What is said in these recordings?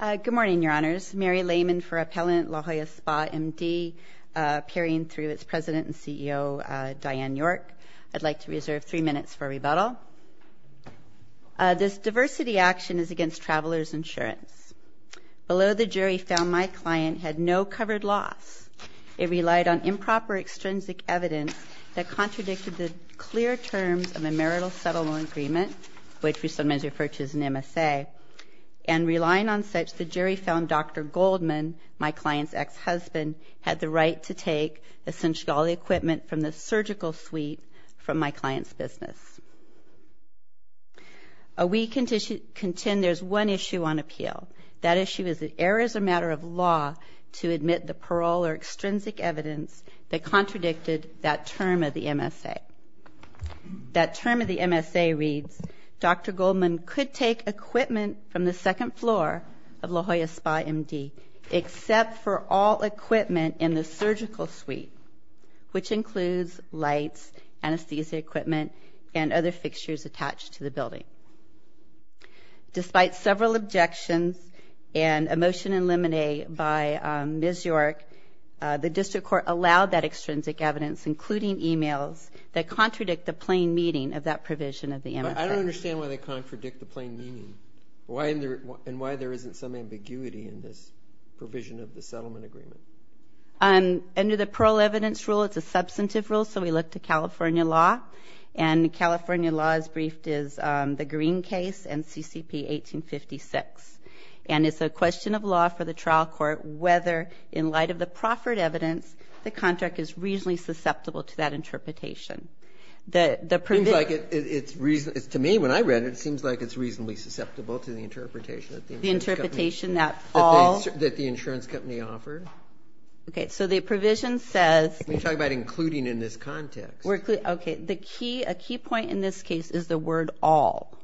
Good morning, Your Honors. Mary Lehman for Appellant La Jolla Spa MD, peering through its President and CEO, Diane York. I'd like to reserve three minutes for rebuttal. This diversity action is against Travelers Insurance. Below the jury found my client had no covered loss. It relied on improper extrinsic evidence that contradicted the clear terms of a marital settlement agreement, which we sometimes refer to as an MSA, and relying on such, the jury found Dr. Goldman, my client's ex-husband, had the right to take essentially all the equipment from the surgical suite from my client's business. We contend there's one issue on appeal. That issue is that error is a matter of law to admit the parole or extrinsic evidence that contradicted that term of the MSA. That term of the MSA reads, Dr. Goldman could take equipment from the second floor of La Jolla Spa MD except for all equipment in the surgical suite, which includes lights, anesthesia equipment, and other fixtures attached to the building. Despite several objections and a motion in limine by Ms. York, the district court allowed that extrinsic evidence, including e-mails, that contradict the plain meaning of that provision of the MSA. But I don't understand why they contradict the plain meaning, and why there isn't some ambiguity in this provision of the settlement agreement. Under the parole evidence rule, it's a substantive rule, so we look to California law, and California law is briefed as the Green case and CCP 1856. And it's a question of law for the trial court whether, in light of the proffered evidence, the contract is reasonably susceptible to that interpretation. It seems like it's reasonably, to me when I read it, it seems like it's reasonably susceptible to the interpretation that the insurance company offered. Okay, so the provision says. We're talking about including in this context. Okay, a key point in this case is the word all.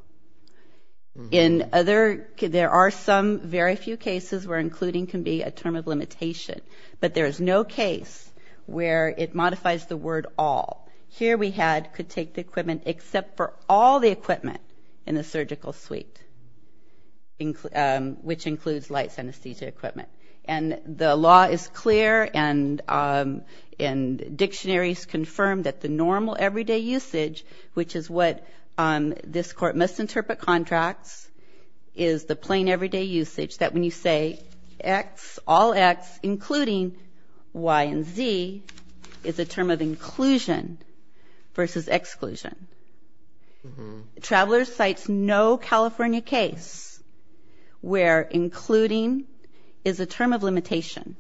In other, there are some very few cases where including can be a term of limitation. But there is no case where it modifies the word all. Here we had could take the equipment except for all the equipment in the surgical suite, which includes lights, anesthesia equipment. And the law is clear, and dictionaries confirm that the normal everyday usage, which is what this court must interpret contracts, is the plain everyday usage, that when you say all X, including Y and Z, is a term of inclusion versus exclusion. Traveler cites no California case where including is a term of limitation.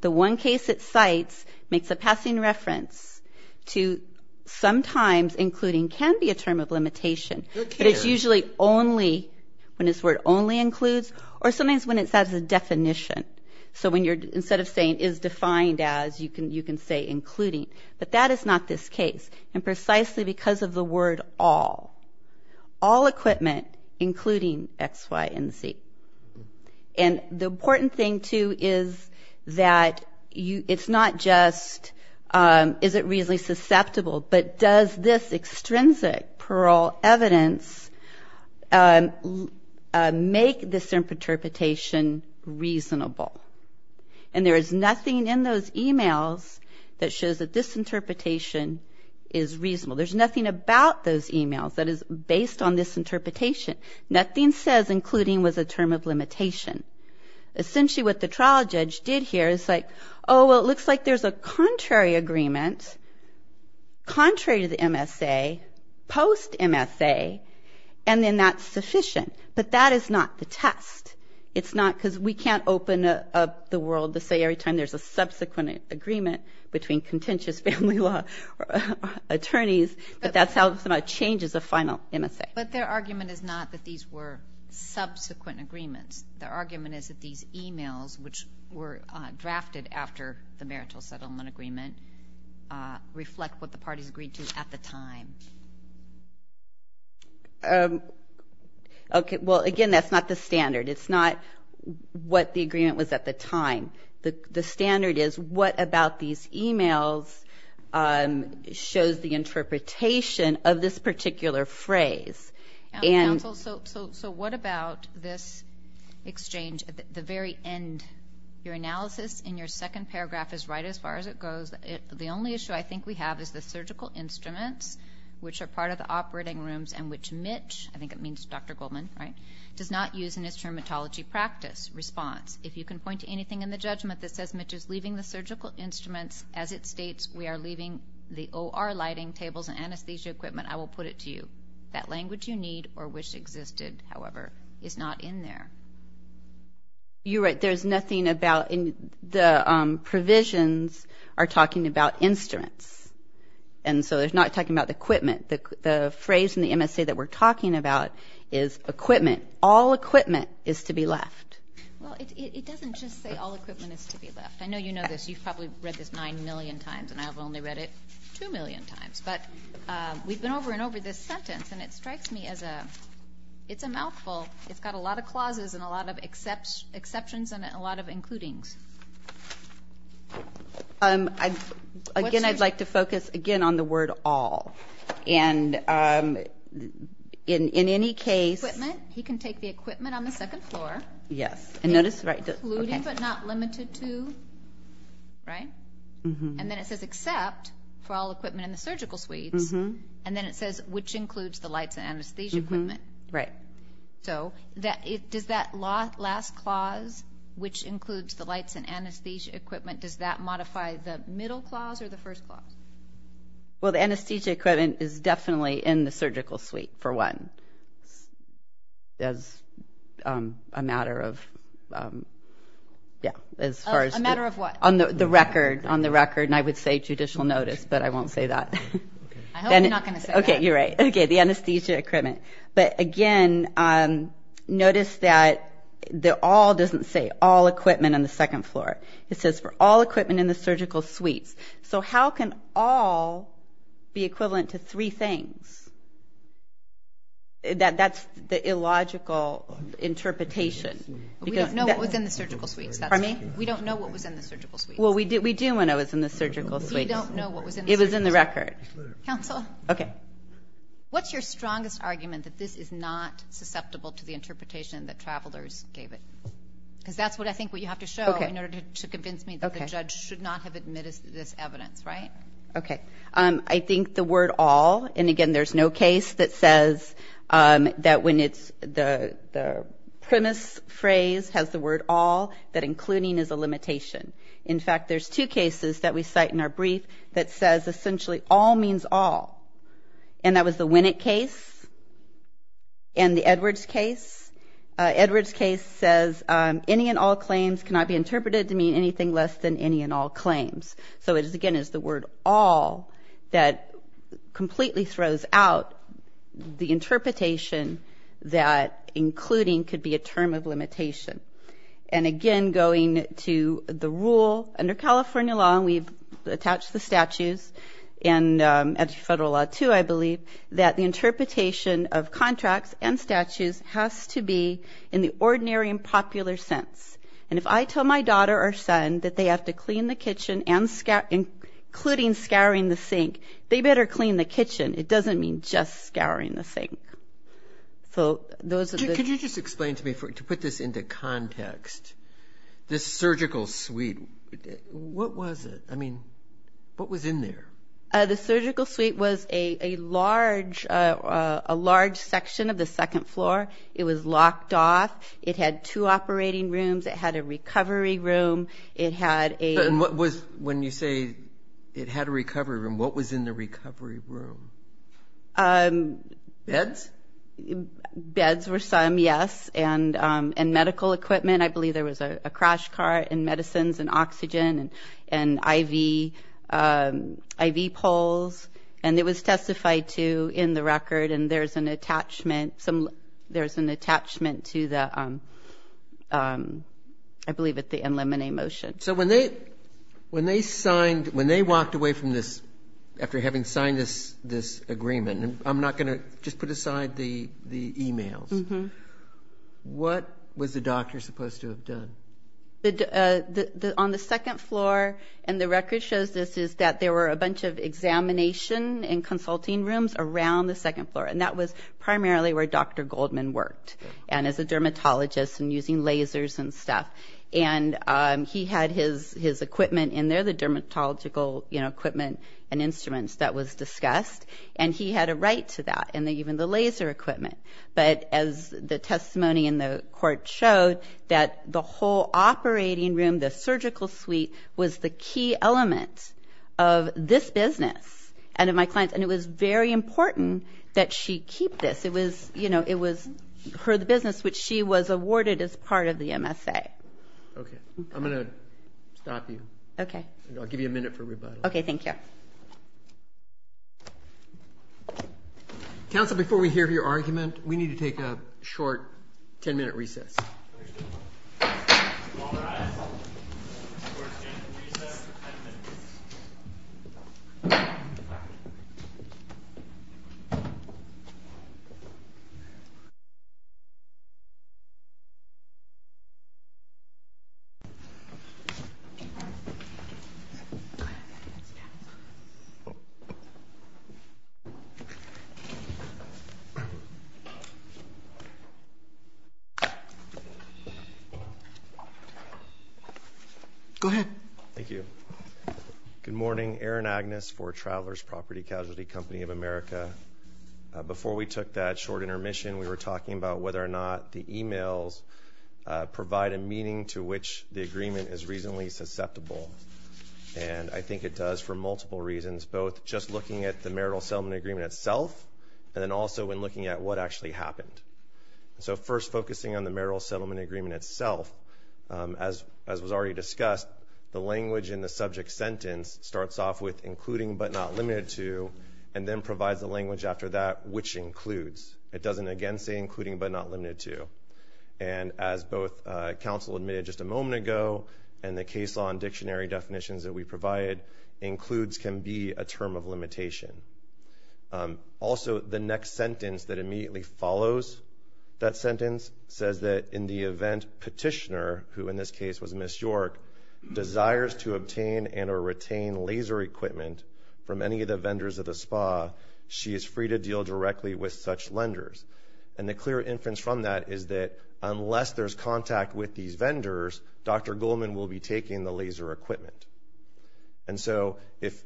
The one case it cites makes a passing reference to sometimes including can be a term of limitation. But it's usually only when this word only includes or sometimes when it's as a definition. So when you're, instead of saying is defined as, you can say including. But that is not this case. And precisely because of the word all, all equipment including X, Y, and Z. And the important thing, too, is that it's not just is it reasonably susceptible, but does this extrinsic parole evidence make this interpretation reasonable. And there is nothing in those e-mails that shows that this interpretation is reasonable. There's nothing about those e-mails that is based on this interpretation. Nothing says including was a term of limitation. Essentially what the trial judge did here is like, oh, well, it looks like there's a contrary agreement, contrary to the MSA, post-MSA, and then that's sufficient. But that is not the test. It's not because we can't open up the world to say every time there's a subsequent agreement between contentious family law attorneys, but that's how it changes a final MSA. But their argument is not that these were subsequent agreements. Their argument is that these e-mails, which were drafted after the marital settlement agreement, reflect what the parties agreed to at the time. Well, again, that's not the standard. It's not what the agreement was at the time. The standard is what about these e-mails shows the interpretation of this particular phrase. Counsel, so what about this exchange at the very end? Your analysis in your second paragraph is right as far as it goes. The only issue I think we have is the surgical instruments, which are part of the operating rooms, and which Mitch, I think it means Dr. Goldman, right, does not use in his terminology practice response. If you can point to anything in the judgment that says Mitch is leaving the surgical instruments as it states we are leaving the OR lighting tables and anesthesia equipment, I will put it to you. That language you need or wish existed, however, is not in there. You're right. There's nothing about the provisions are talking about instruments, and so they're not talking about equipment. The phrase in the MSA that we're talking about is equipment. All equipment is to be left. Well, it doesn't just say all equipment is to be left. I know you know this. You've probably read this 9 million times, and I've only read it 2 million times. But we've been over and over this sentence, and it strikes me as a mouthful. It's got a lot of clauses and a lot of exceptions and a lot of includings. Again, I'd like to focus, again, on the word all. And in any case he can take the equipment on the second floor. Yes. Including but not limited to, right? And then it says except for all equipment in the surgical suites, and then it says which includes the lights and anesthesia equipment. Right. So does that last clause, which includes the lights and anesthesia equipment, does that modify the middle clause or the first clause? Well, the anesthesia equipment is definitely in the surgical suite, for one, as a matter of what? On the record, and I would say judicial notice, but I won't say that. I hope you're not going to say that. Okay, you're right. Okay, the anesthesia equipment. But, again, notice that the all doesn't say all equipment on the second floor. It says for all equipment in the surgical suites. So how can all be equivalent to three things? That's the illogical interpretation. We don't know what was in the surgical suites. Pardon me? We don't know what was in the surgical suites. Well, we do when it was in the surgical suites. We don't know what was in the surgical suites. It was in the record. Counsel? Okay. What's your strongest argument that this is not susceptible to the interpretation that travelers gave it? Because that's what I think what you have to show in order to convince me that the judge should not have admitted this evidence, right? Okay. I think the word all, and, again, there's no case that says that when the premise phrase has the word all, that including is a limitation. In fact, there's two cases that we cite in our brief that says, essentially, all means all, and that was the Winnick case and the Edwards case. Edwards case says any and all claims cannot be interpreted to mean anything less than any and all claims. So it, again, is the word all that completely throws out the interpretation that including could be a term of limitation. And, again, going to the rule, under California law, and we've attached the statutes and federal law too, I believe, that the interpretation of contracts and statutes has to be in the ordinary and popular sense. And if I tell my daughter or son that they have to clean the kitchen, including scouring the sink, they better clean the kitchen. It doesn't mean just scouring the sink. Could you just explain to me, to put this into context, this surgical suite, what was it? I mean, what was in there? The surgical suite was a large section of the second floor. It was locked off. It had two operating rooms. It had a recovery room. It had a ---- When you say it had a recovery room, what was in the recovery room? Beds? Beds were some, yes, and medical equipment. I believe there was a crash cart and medicines and oxygen and IV poles. And it was testified to in the record. And there's an attachment to the, I believe, the NLMNE motion. So when they walked away from this, after having signed this agreement, and I'm not going to just put aside the e-mails, what was the doctor supposed to have done? On the second floor, and the record shows this, is that there were a bunch of examination and consulting rooms around the second floor. And that was primarily where Dr. Goldman worked as a dermatologist and using lasers and stuff. And he had his equipment in there, the dermatological equipment and instruments that was discussed, and he had a right to that and even the laser equipment. But as the testimony in the court showed, that the whole operating room, the surgical suite, was the key element of this business and of my clients. And it was very important that she keep this. It was her business, which she was awarded as part of the MSA. Okay. I'm going to stop you. Okay. Okay, thank you. Thank you. Counsel, before we hear your argument, we need to take a short 10-minute recess. Thank you. Go ahead. Thank you. Good morning. Aaron Agnes for Travelers' Property Casualty Company of America. Before we took that short intermission, we were talking about whether or not the emails provide a meaning to which the agreement is reasonably susceptible. And I think it does for multiple reasons, both just looking at the marital settlement agreement itself and then also in looking at what actually happened. So first focusing on the marital settlement agreement itself, as was already discussed, the language in the subject sentence starts off with including but not limited to and then provides the language after that, which includes. It doesn't again say including but not limited to. And as both counsel admitted just a moment ago and the case law and dictionary definitions that we provided, includes can be a term of limitation. Also, the next sentence that immediately follows that sentence says that in the event petitioner, who in this case was Ms. York, desires to obtain and or retain laser equipment from any of the vendors of the spa, she is free to deal directly with such lenders. And the clear inference from that is that unless there's contact with these vendors, Dr. Goldman will be taking the laser equipment. And so if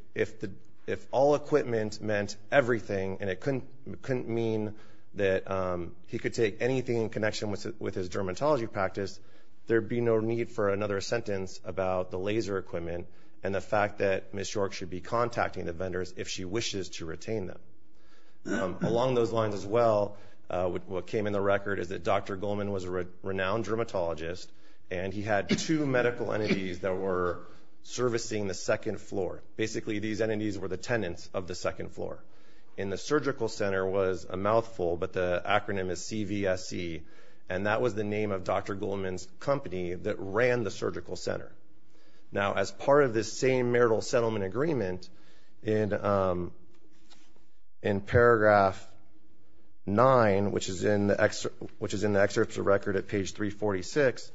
all equipment meant everything and it couldn't mean that he could take anything in connection with his dermatology practice, there would be no need for another sentence about the laser equipment and the fact that Ms. York should be contacting the vendors if she wishes to retain them. Along those lines as well, what came in the record is that Dr. Goldman was a renowned dermatologist and he had two medical entities that were servicing the second floor. Basically, these entities were the tenants of the second floor. And the surgical center was a mouthful, but the acronym is CVSE, and that was the name of Dr. Goldman's company that ran the surgical center. Now, as part of this same marital settlement agreement, in paragraph 9, which is in the excerpts of record at page 346,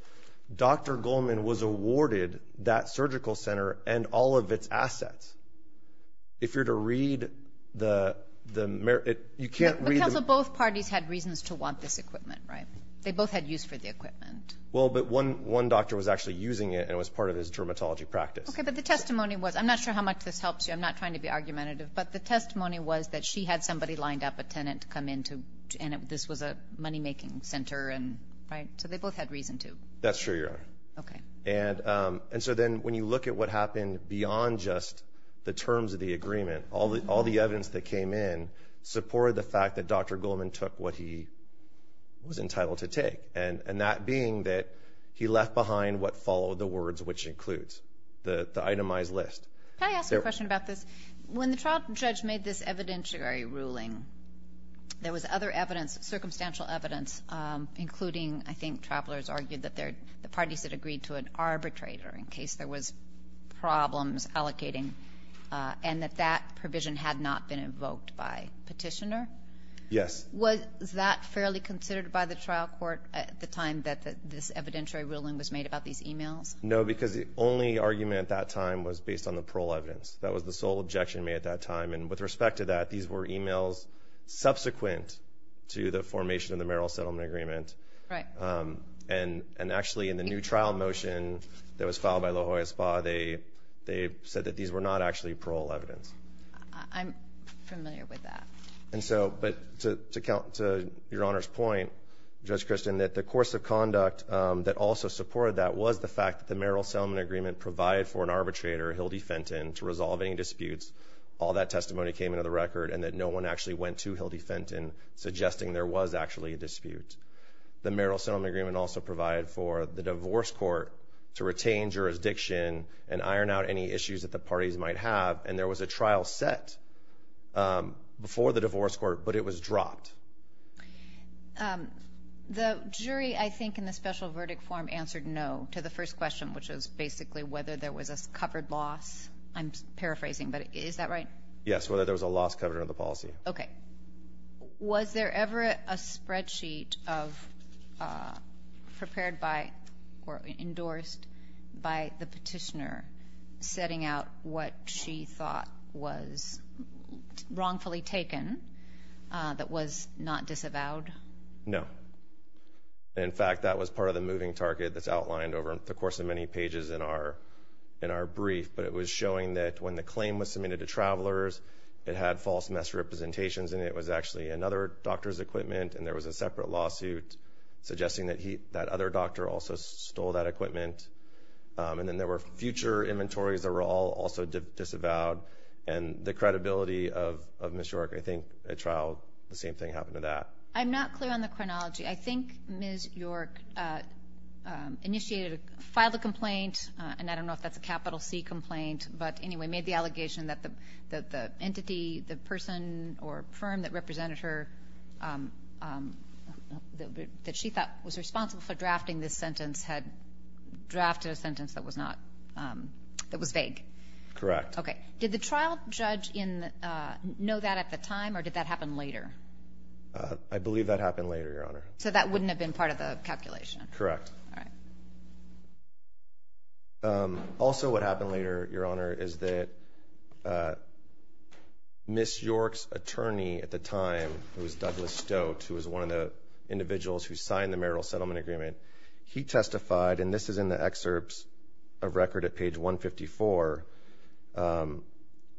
Dr. Goldman was awarded that surgical center and all of its assets. If you're to read the merits, you can't read the- But counsel, both parties had reasons to want this equipment, right? They both had use for the equipment. Well, but one doctor was actually using it and it was part of his dermatology practice. Okay, but the testimony was-I'm not sure how much this helps you. I'm not trying to be argumentative. But the testimony was that she had somebody lined up, a tenant, to come in to- and this was a moneymaking center, right? So they both had reason to. That's true, Your Honor. Okay. And so then when you look at what happened beyond just the terms of the agreement, all the evidence that came in supported the fact that Dr. Goldman took what he was entitled to take, and that being that he left behind what followed the words, which includes the itemized list. Can I ask a question about this? When the trial judge made this evidentiary ruling, there was other evidence, circumstantial evidence, including, I think, travelers argued that the parties had agreed to an arbitrator in case there was problems allocating, and that that provision had not been invoked by petitioner. Yes. Was that fairly considered by the trial court at the time that this evidentiary ruling was made about these e-mails? No, because the only argument at that time was based on the parole evidence. That was the sole objection made at that time. And with respect to that, these were e-mails subsequent to the formation of the Merrill Settlement Agreement. Right. And actually in the new trial motion that was filed by La Jolla Spa, they said that these were not actually parole evidence. I'm familiar with that. And so, but to your Honor's point, Judge Christian, that the course of conduct that also supported that was the fact that the Merrill Settlement Agreement provided for an arbitrator, Hildy Fenton, to resolve any disputes. All that testimony came into the record and that no one actually went to Hildy Fenton, suggesting there was actually a dispute. The Merrill Settlement Agreement also provided for the divorce court to retain jurisdiction and iron out any issues that the parties might have, and there was a trial set before the divorce court, but it was dropped. The jury, I think, in the special verdict form answered no to the first question, which was basically whether there was a covered loss. I'm paraphrasing, but is that right? Yes, whether there was a loss covered under the policy. Okay. Was there ever a spreadsheet prepared by or endorsed by the petitioner setting out what she thought was wrongfully taken that was not disavowed? No. In fact, that was part of the moving target that's outlined over the course of many pages in our brief, but it was showing that when the claim was submitted to travelers, it had false mess representations in it. It was actually another doctor's equipment, and there was a separate lawsuit suggesting that that other doctor also stole that equipment. And then there were future inventories that were all also disavowed, and the credibility of Ms. York, I think, at trial, the same thing happened to that. I'm not clear on the chronology. I think Ms. York initiated a file a complaint, and I don't know if that's a capital C complaint, but anyway, made the allegation that the entity, the person or firm that represented her, that she thought was responsible for drafting this sentence had drafted a sentence that was vague. Correct. Okay. Did the trial judge know that at the time, or did that happen later? I believe that happened later, Your Honor. So that wouldn't have been part of the calculation? Correct. All right. Also what happened later, Your Honor, is that Ms. York's attorney at the time, who was Douglas Stote, who was one of the individuals who signed the marital settlement agreement, he testified, and this is in the excerpts of record at page 154.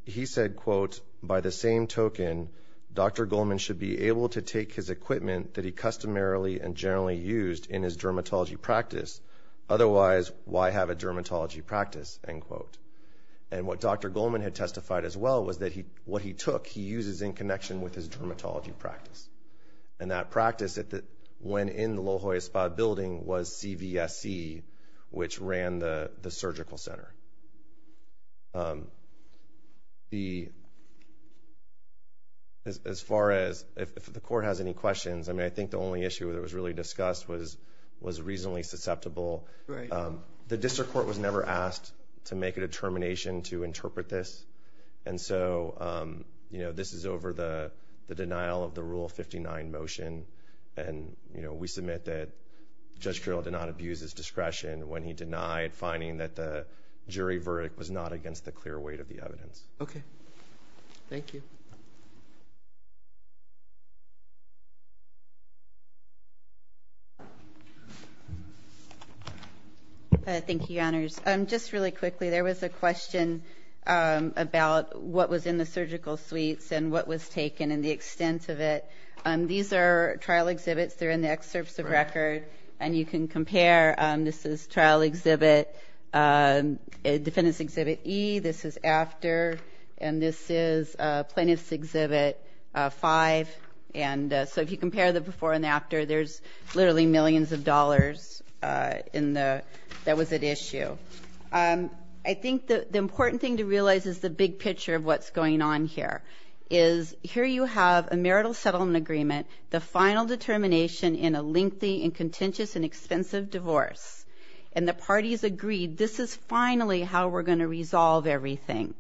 He said, quote, Otherwise, why have a dermatology practice? End quote. And what Dr. Goldman had testified as well was that what he took, he uses in connection with his dermatology practice. And that practice, when in the La Jolla Spa building, was CVSE, which ran the surgical center. As far as if the Court has any questions, I mean, I think the only issue that was really discussed was reasonably susceptible. The district court was never asked to make a determination to interpret this, and so this is over the denial of the Rule 59 motion, and we submit that Judge Carroll did not abuse his discretion when he denied finding that the jury verdict was not against the clear weight of the evidence. Okay. Thank you. Thank you, Your Honors. Just really quickly, there was a question about what was in the surgical suites and what was taken and the extent of it. These are trial exhibits. They're in the excerpts of record, and you can compare. This is trial exhibit, defendant's exhibit E. This is after, and this is plaintiff's exhibit 5. So if you compare the before and after, there's literally millions of dollars that was at issue. I think the important thing to realize is the big picture of what's going on here, is here you have a marital settlement agreement, the final determination in a lengthy and contentious and expensive divorce, and the parties agreed, this is finally how we're going to resolve everything.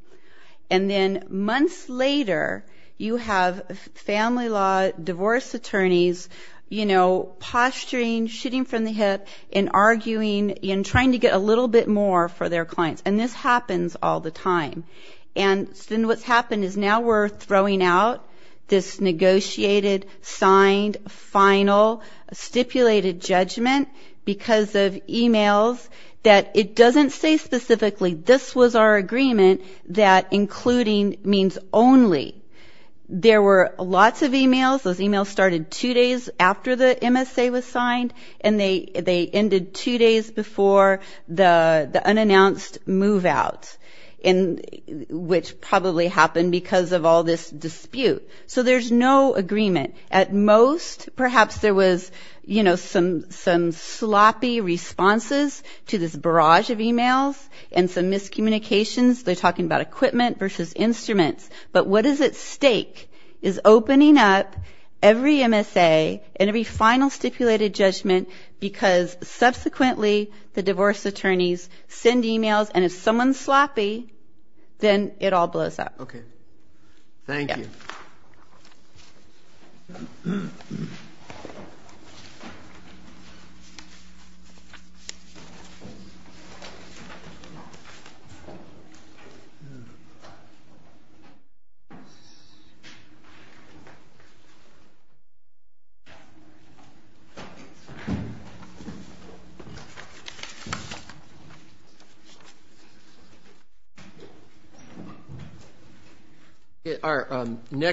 And then months later, you have family law divorce attorneys, you know, posturing, shitting from the hip and arguing and trying to get a little bit more for their clients, and this happens all the time. And then what's happened is now we're throwing out this negotiated, signed, final stipulated judgment because of emails that it doesn't say specifically, this was our agreement that including means only. There were lots of emails. Those emails started two days after the MSA was signed, and they ended two days before the unannounced move out, which probably happened because of all this dispute. So there's no agreement. At most, perhaps there was, you know, some sloppy responses to this barrage of emails and some miscommunications. They're talking about equipment versus instruments. But what is at stake is opening up every MSA and every final stipulated judgment because subsequently the divorce attorneys send emails, and if someone's sloppy, then it all blows up. Okay. Our next.